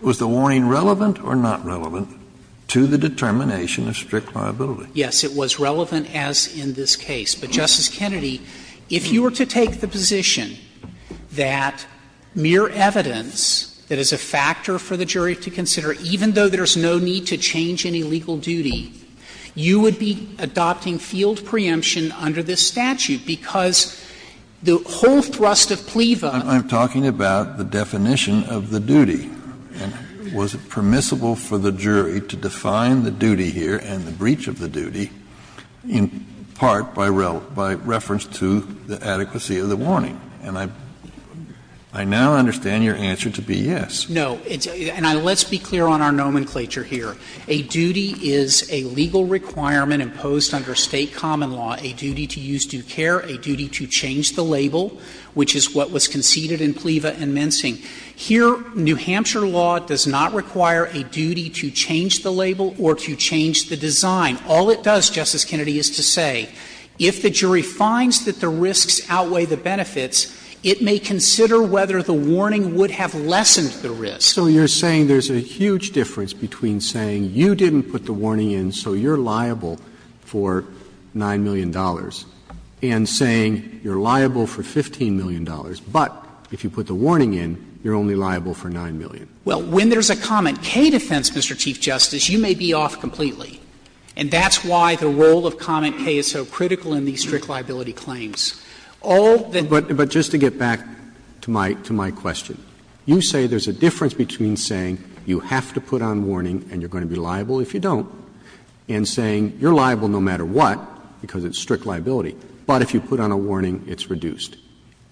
was the warning relevant or not relevant to the determination of strict liability? Yes, it was relevant as in this case. But, Justice Kennedy, if you were to take the position that mere evidence that is a factor for the jury to consider, even though there's no need to change any legal duty, you would be adopting field preemption under this statute, because the whole thrust of PLEVA. I'm talking about the definition of the duty. And was it permissible for the jury to define the duty here and the breach of the duty in part by reference to the adequacy of the warning? And I now understand your answer to be yes. No. And let's be clear on our nomenclature here. A duty is a legal requirement imposed under State common law, a duty to use due care, a duty to change the label, which is what was conceded in PLEVA and Mensing. Here, New Hampshire law does not require a duty to change the label or to change the design. All it does, Justice Kennedy, is to say if the jury finds that the risks outweigh the benefits, it may consider whether the warning would have lessened the risk. So you're saying there's a huge difference between saying you didn't put the warning in, so you're liable for $9 million, and saying you're liable for $15 million, but if you put the warning in, you're only liable for $9 million. Well, when there's a comment K defense, Mr. Chief Justice, you may be off completely. And that's why the role of comment K is so critical in these strict liability All that the Justice Kennedy, but just to get back to my question, you say there's a difference between saying you have to put on warning and you're going to be liable if you don't, and saying you're liable no matter what, because it's strict liability, but if you put on a warning, it's reduced.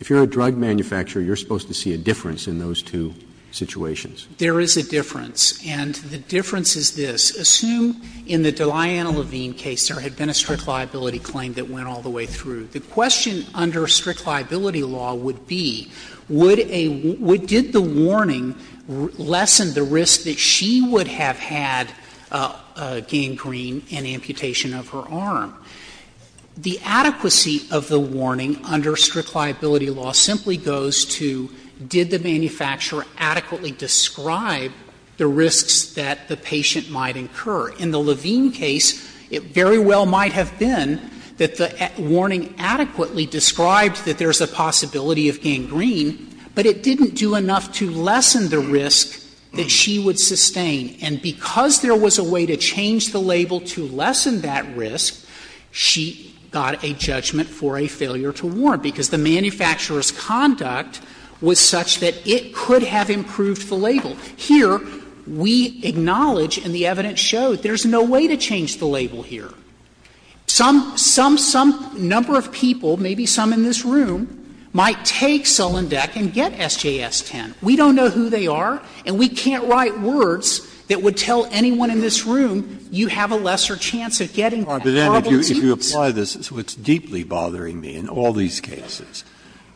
If you're a drug manufacturer, you're supposed to see a difference in those two situations. There is a difference, and the difference is this. Assume in the Deliana Levine case there had been a strict liability claim that went all the way through. The question under strict liability law would be, would a — did the warning lessen the risk that she would have had gangrene and amputation of her arm? The adequacy of the warning under strict liability law simply goes to did the manufacturer adequately describe the risks that the patient might incur? In the Levine case, it very well might have been that the warning adequately described that there's a possibility of gangrene, but it didn't do enough to lessen the risk that she would sustain. And because there was a way to change the label to lessen that risk, she got a judgment for a failure to warn, because the manufacturer's conduct was such that it could have improved the label. Here, we acknowledge, and the evidence showed, there's no way to change the label here. Some — some — some number of people, maybe some in this room, might take Solendeck and get SJS-10. We don't know who they are, and we can't write words that would tell anyone in this room, you have a lesser chance of getting that. Breyer, if you apply this, it's what's deeply bothering me in all these cases,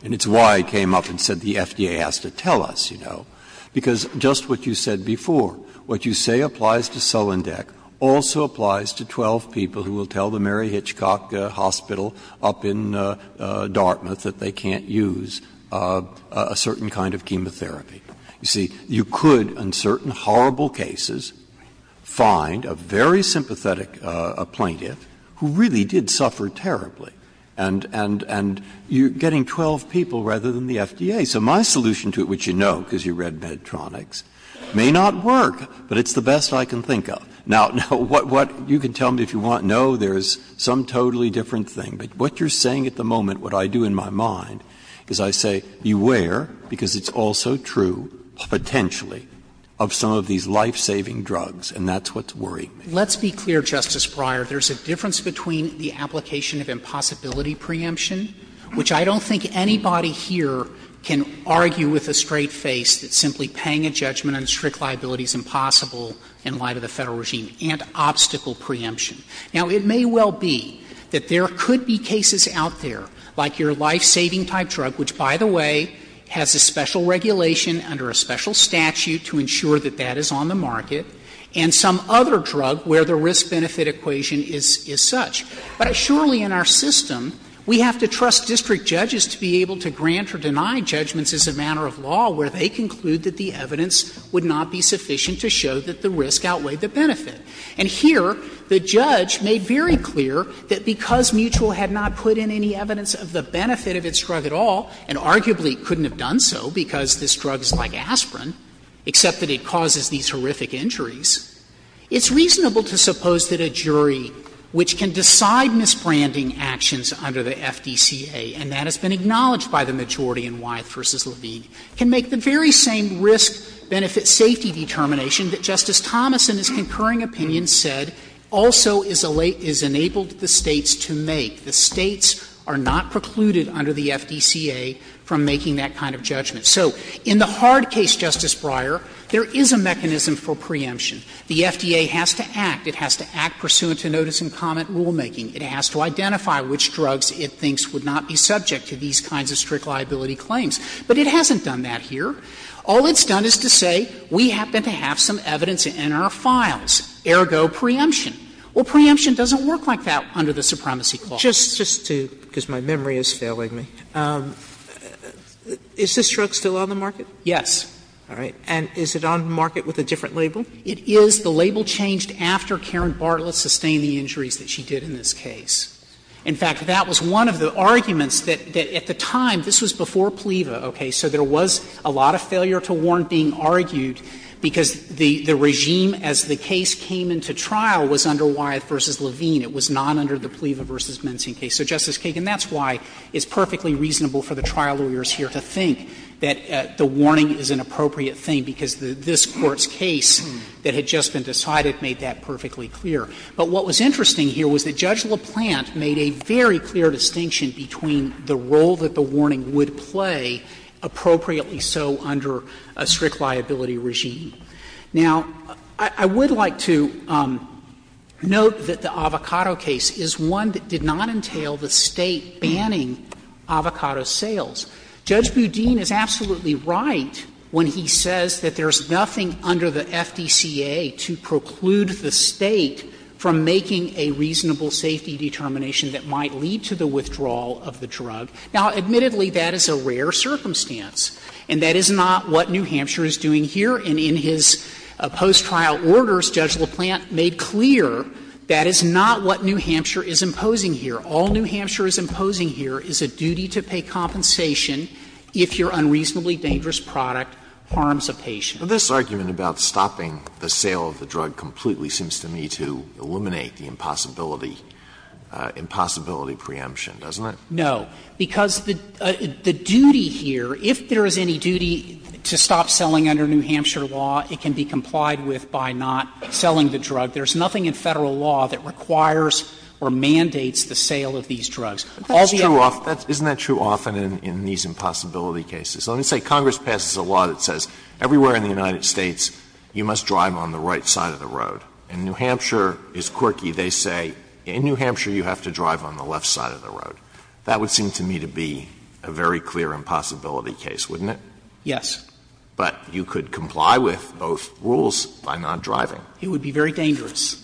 and it's why I came up and said the FDA has to tell us, you know. Because just what you said before, what you say applies to Solendeck also applies to 12 people who will tell the Mary Hitchcock Hospital up in Dartmouth that they can't use a certain kind of chemotherapy. You see, you could, in certain horrible cases, find a very sympathetic plaintiff who really did suffer terribly, and you're getting 12 people rather than the FDA. So my solution to it, which you know because you read Medtronics, may not work, but it's the best I can think of. Now, what you can tell me if you want, no, there's some totally different thing. But what you're saying at the moment, what I do in my mind, is I say beware, because it's also true, potentially, of some of these life-saving drugs, and that's what's worrying me. Let's be clear, Justice Breyer, there's a difference between the application of impossibility preemption, which I don't think anybody here can argue with a straight face that simply paying a judgment on strict liability is impossible in light of the Federal regime, and obstacle preemption. Now, it may well be that there could be cases out there, like your life-saving type drug, which, by the way, has a special regulation under a special statute to ensure that that is on the market, and some other drug where the risk-benefit equation is such. But surely in our system, we have to trust district judges to be able to grant or deny judgments as a matter of law where they conclude that the evidence would not be sufficient to show that the risk outweighed the benefit. And here, the judge made very clear that because Mutual had not put in any evidence of the benefit of its drug at all, and arguably couldn't have done so because this drug is like aspirin, except that it causes these horrific injuries, it's reasonable to suppose that a jury which can decide misbranding actions under the FDCA, and that has been acknowledged by the majority in Wyeth v. Levine, can make the very same risk-benefit-safety determination that Justice Thomas, in his concurring opinion, said also is enabled the States to make. The States are not precluded under the FDCA from making that kind of judgment. So in the hard case, Justice Breyer, there is a mechanism for preemption. The FDA has to act. It has to act pursuant to notice and comment rulemaking. It has to identify which drugs it thinks would not be subject to these kinds of strict liability claims. But it hasn't done that here. All it's done is to say, we happen to have some evidence in our files, ergo preemption. Well, preemption doesn't work like that under the supremacy clause. Sotomayor, just to – because my memory is failing me. Is this drug still on the market? Yes. All right. And is it on the market with a different label? It is. The label changed after Karen Bartlett sustained the injuries that she did in this case. In fact, that was one of the arguments that at the time, this was before PLEVA, okay? So there was a lot of failure to warn being argued, because the regime as the case came into trial was under Wyeth v. Levine. It was not under the PLEVA v. Menzien case. So, Justice Kagan, that's why it's perfectly reasonable for the trial lawyers here to think that the warning is an appropriate thing, because this Court's case that had just been decided made that perfectly clear. But what was interesting here was that Judge LaPlante made a very clear distinction between the role that the warning would play, appropriately so under a strict liability regime. Now, I would like to note that the avocado case is one that did not entail the State banning avocado sales. Judge Boudin is absolutely right when he says that there's nothing under the FDCA to preclude the State from making a reasonable safety determination that might lead to the withdrawal of the drug. Now, admittedly, that is a rare circumstance, and that is not what New Hampshire is doing here. And in his post-trial orders, Judge LaPlante made clear that is not what New Hampshire is imposing here. All New Hampshire is imposing here is a duty to pay compensation if your unreasonably dangerous product harms a patient. Alitoson This argument about stopping the sale of the drug completely seems to me to eliminate the impossibility, impossibility preemption, doesn't it? Frederick No, because the duty here, if there is any duty to stop selling under New Hampshire law, it can be complied with by not selling the drug. There's nothing in Federal law that requires or mandates the sale of these drugs. Alitoson Isn't that true often in these impossibility cases? Let me say Congress passes a law that says everywhere in the United States you must drive on the right side of the road. In New Hampshire, it's quirky. They say in New Hampshire you have to drive on the left side of the road. That would seem to me to be a very clear impossibility case, wouldn't it? Frederick Yes. Alitoson But you could comply with both rules by not driving. Frederick It would be very dangerous.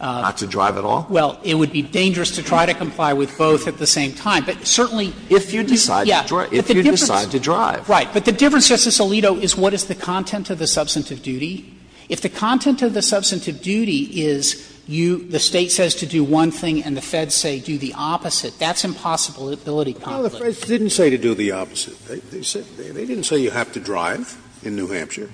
Alitoson Not to drive at all? Frederick Well, it would be dangerous to try to comply with both at the same time. But certainly, if you do, yes. Alitoson If you decide to drive. Frederick Right. But the difference, Justice Alito, is what is the content of the substantive duty. If the content of the substantive duty is you – the State says to do one thing and the Feds say do the opposite, that's impossibility probably. Scalia No, the Feds didn't say to do the opposite. They didn't say you have to drive in New Hampshire.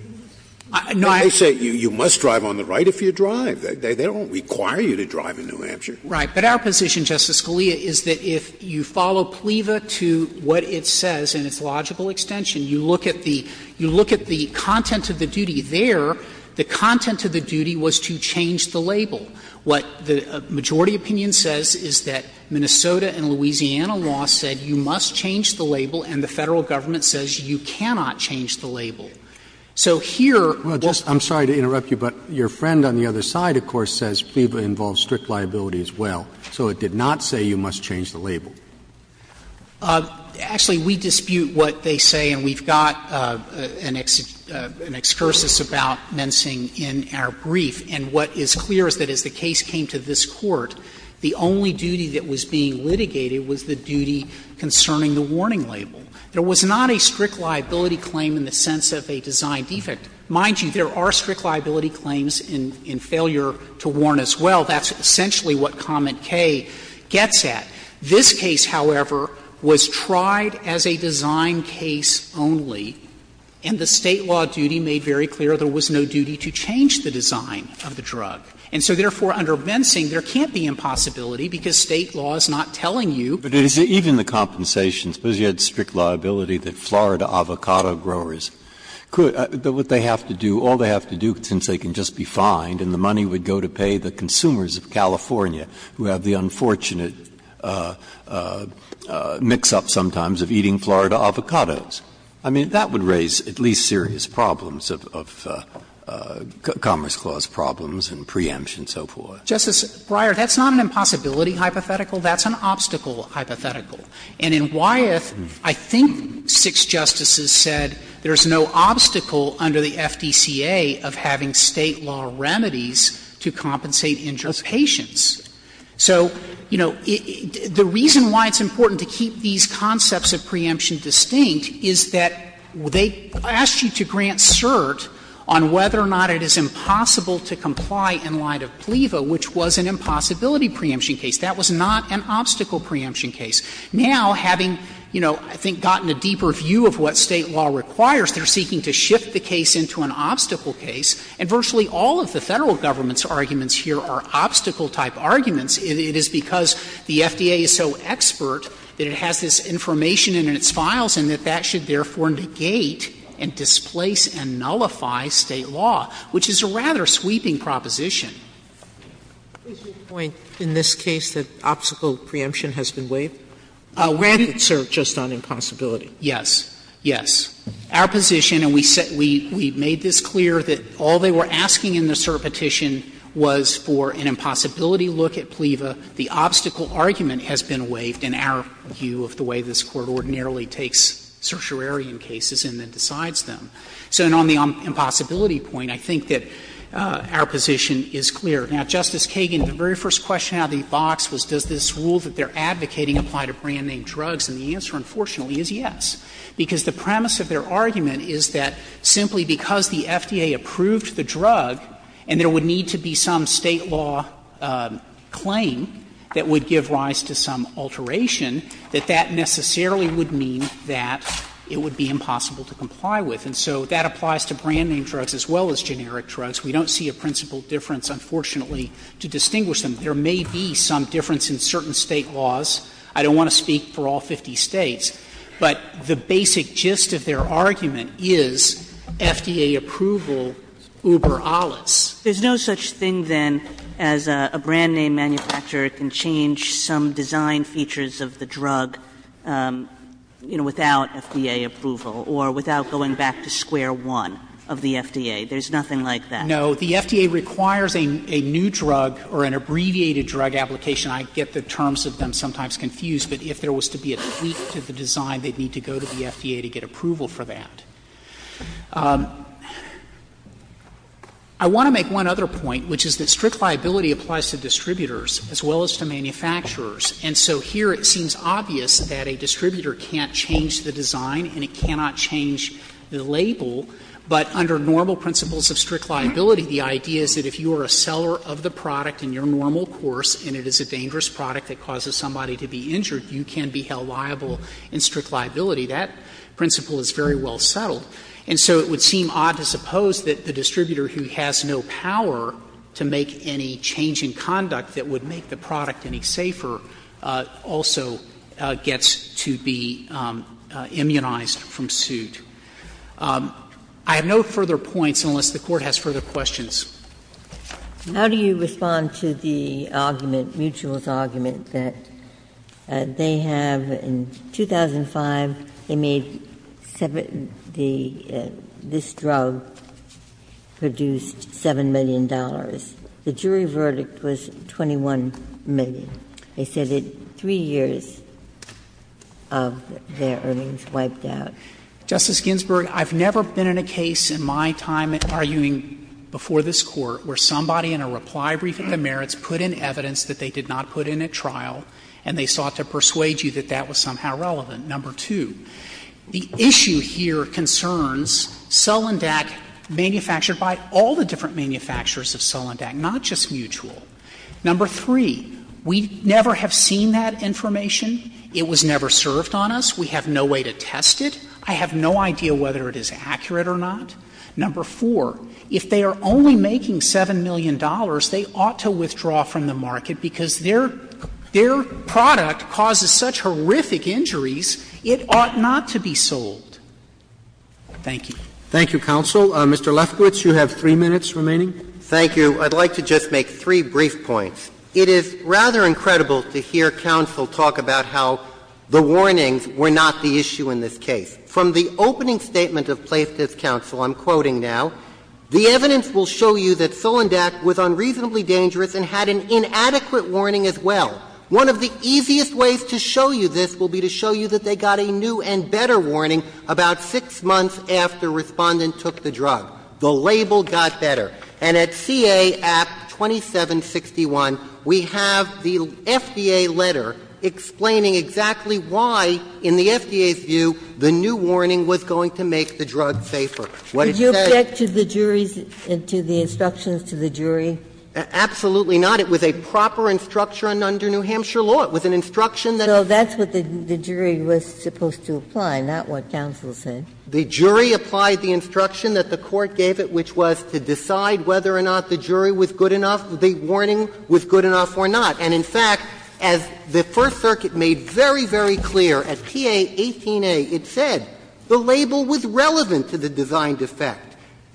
Frederick No, I – Scalia They say you must drive on the right if you drive. They don't require you to drive in New Hampshire. Frederick Right. But our position, Justice Scalia, is that if you follow PLEVA to what it says in its the content of the duty there, the content of the duty was to change the label. What the majority opinion says is that Minnesota and Louisiana law said you must change the label, and the Federal government says you cannot change the label. So here – Roberts I'm sorry to interrupt you, but your friend on the other side, of course, says PLEVA involves strict liability as well. So it did not say you must change the label. Frederick Actually, we dispute what they say, and we've got an excursus about Mensing in our brief. And what is clear is that as the case came to this Court, the only duty that was being litigated was the duty concerning the warning label. There was not a strict liability claim in the sense of a design defect. Mind you, there are strict liability claims in failure to warn as well. That's essentially what comment K gets at. This case, however, was tried as a design case only, and the State law duty made very clear there was no duty to change the design of the drug. And so, therefore, under Mensing, there can't be impossibility because State law is not telling you. Breyer But even the compensation, suppose you had strict liability that Florida avocado growers could – what they have to do, all they have to do since they can just be fined and the money would go to pay the consumers of California who have the unfortunate mix-up sometimes of eating Florida avocados. I mean, that would raise at least serious problems of Commerce Clause problems and preemption and so forth. Frederick. Justice Breyer, that's not an impossibility hypothetical. That's an obstacle hypothetical. And in Wyeth, I think six Justices said there's no obstacle under the FDCA of having State law remedies to compensate injured patients. So, you know, the reason why it's important to keep these concepts of preemption distinct is that they asked you to grant cert on whether or not it is impossible to comply in light of PLEVA, which was an impossibility preemption case. That was not an obstacle preemption case. Now, having, you know, I think gotten a deeper view of what State law requires, they're seeking to shift the case into an obstacle case. And virtually all of the Federal Government's arguments here are obstacle-type arguments. It is because the FDA is so expert that it has this information in its files and that that should therefore negate and displace and nullify State law, which is a rather sweeping proposition. Sotomayor, is your point in this case that obstacle preemption has been waived? I'll grant it, sir, just on impossibility. Yes, yes. Our position, and we said we made this clear, that all they were asking in the cert petition was for an impossibility look at PLEVA. The obstacle argument has been waived in our view of the way this Court ordinarily takes certiorarian cases and then decides them. So on the impossibility point, I think that our position is clear. Now, Justice Kagan, the very first question out of the box was does this rule that they're advocating apply to brand-name drugs, and the answer, unfortunately, is yes. Because the premise of their argument is that simply because the FDA approved the drug and there would need to be some State law claim that would give rise to some alteration, that that necessarily would mean that it would be impossible to comply with. And so that applies to brand-name drugs as well as generic drugs. We don't see a principal difference, unfortunately, to distinguish them. There may be some difference in certain State laws. I don't want to speak for all 50 States. But the basic gist of their argument is FDA approval uber alis. Kagan There's no such thing, then, as a brand-name manufacturer can change some design features of the drug, you know, without FDA approval or without going back to square one of the FDA. There's nothing like that. Frederickson No. The FDA requires a new drug or an abbreviated drug application. I get the terms of them sometimes confused, but if there was to be a tweak to the design, they'd need to go to the FDA to get approval for that. I want to make one other point, which is that strict liability applies to distributors as well as to manufacturers. And so here it seems obvious that a distributor can't change the design and it cannot change the label, but under normal principles of strict liability, the idea is that if you are a seller of the product in your normal course and it is a dangerous product that causes somebody to be injured, you can be held liable in strict liability. That principle is very well settled. And so it would seem odd to suppose that the distributor who has no power to make any change in conduct that would make the product any safer also gets to be immunized from suit. I have no further points, unless the Court has further questions. Ginsburg. How do you respond to the argument, Mutual's argument, that they have, in 2005, they made this drug produced $7 million. The jury verdict was $21 million. They said that 3 years of their earnings wiped out. Justice Ginsburg, I've never been in a case in my time arguing before this Court where somebody in a reply brief at the merits put in evidence that they did not put in at trial and they sought to persuade you that that was somehow relevant. Number two, the issue here concerns Selendak manufactured by all the different manufacturers of Selendak, not just Mutual. Number three, we never have seen that information. It was never served on us. We have no way to test it. I have no idea whether it is accurate or not. Number four, if they are only making $7 million, they ought to withdraw from the market because their product causes such horrific injuries, it ought not to be sold. Thank you. Roberts. Thank you, counsel. Mr. Lefkowitz, you have 3 minutes remaining. Thank you. I'd like to just make three brief points. It is rather incredible to hear counsel talk about how the warnings were not the issue in this case. From the opening statement of Plaintiff's counsel, I'm quoting now, the evidence will show you that Selendak was unreasonably dangerous and had an inadequate warning as well. One of the easiest ways to show you this will be to show you that they got a new and better warning about 6 months after Respondent took the drug. The label got better. And at CA Act 2761, we have the FDA letter explaining exactly why, in the FDA's view, the new warning was going to make the drug safer. What it said to the jury's – to the instructions to the jury. Absolutely not. It was a proper instruction under New Hampshire law. It was an instruction that was – So that's what the jury was supposed to apply, not what counsel said. The jury applied the instruction that the Court gave it, which was to decide whether or not the jury was good enough, the warning was good enough or not. And, in fact, as the First Circuit made very, very clear at TA 18A, it said the label was relevant to the designed effect.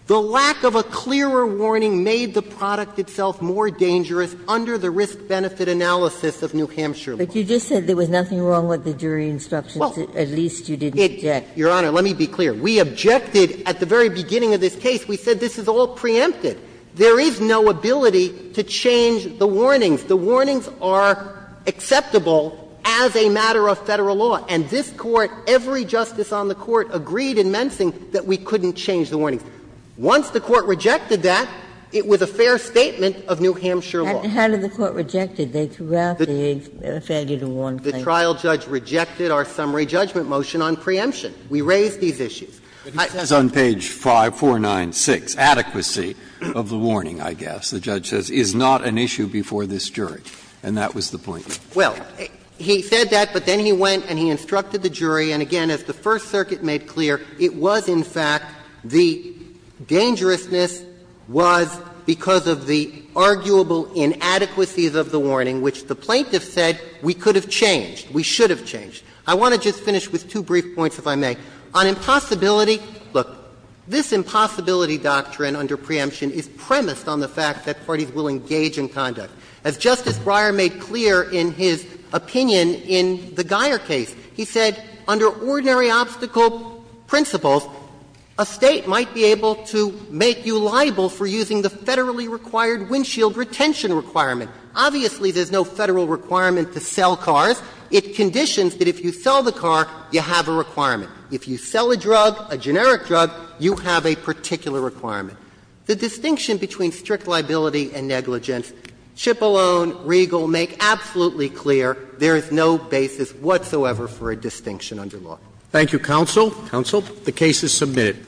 The lack of a clearer warning made the product itself more dangerous under the risk-benefit analysis of New Hampshire law. But you just said there was nothing wrong with the jury instructions, at least you didn't object. Your Honor, let me be clear. We objected at the very beginning of this case. We said this is all preempted. There is no ability to change the warnings. The warnings are acceptable as a matter of Federal law. And this Court, every justice on the Court, agreed in Mensing that we couldn't change the warnings. Once the Court rejected that, it was a fair statement of New Hampshire law. How did the Court reject it? They threw out the failure to warn claim. The trial judge rejected our summary judgment motion on preemption. We raised these issues. But he says on page 5496, adequacy of the warning, I guess, the judge says, is not an issue before this jury, and that was the point. Well, he said that, but then he went and he instructed the jury, and again, as the First Circuit made clear, it was in fact the dangerousness was because of the arguable inadequacies of the warning, which the plaintiff said we could have changed, we should have changed. I want to just finish with two brief points, if I may. On impossibility, look, this impossibility doctrine under preemption is premised on the fact that parties will engage in conduct. As Justice Breyer made clear in his opinion in the Geier case, he said under ordinary obstacle principles, a State might be able to make you liable for using the federally required windshield retention requirement. Obviously, there's no Federal requirement to sell cars. It conditions that if you sell the car, you have a requirement. If you sell a drug, a generic drug, you have a particular requirement. The distinction between strict liability and negligence, Cipollone, Riegel make absolutely clear there is no basis whatsoever for a distinction under law. Thank you, counsel. Counsel. The case is submitted.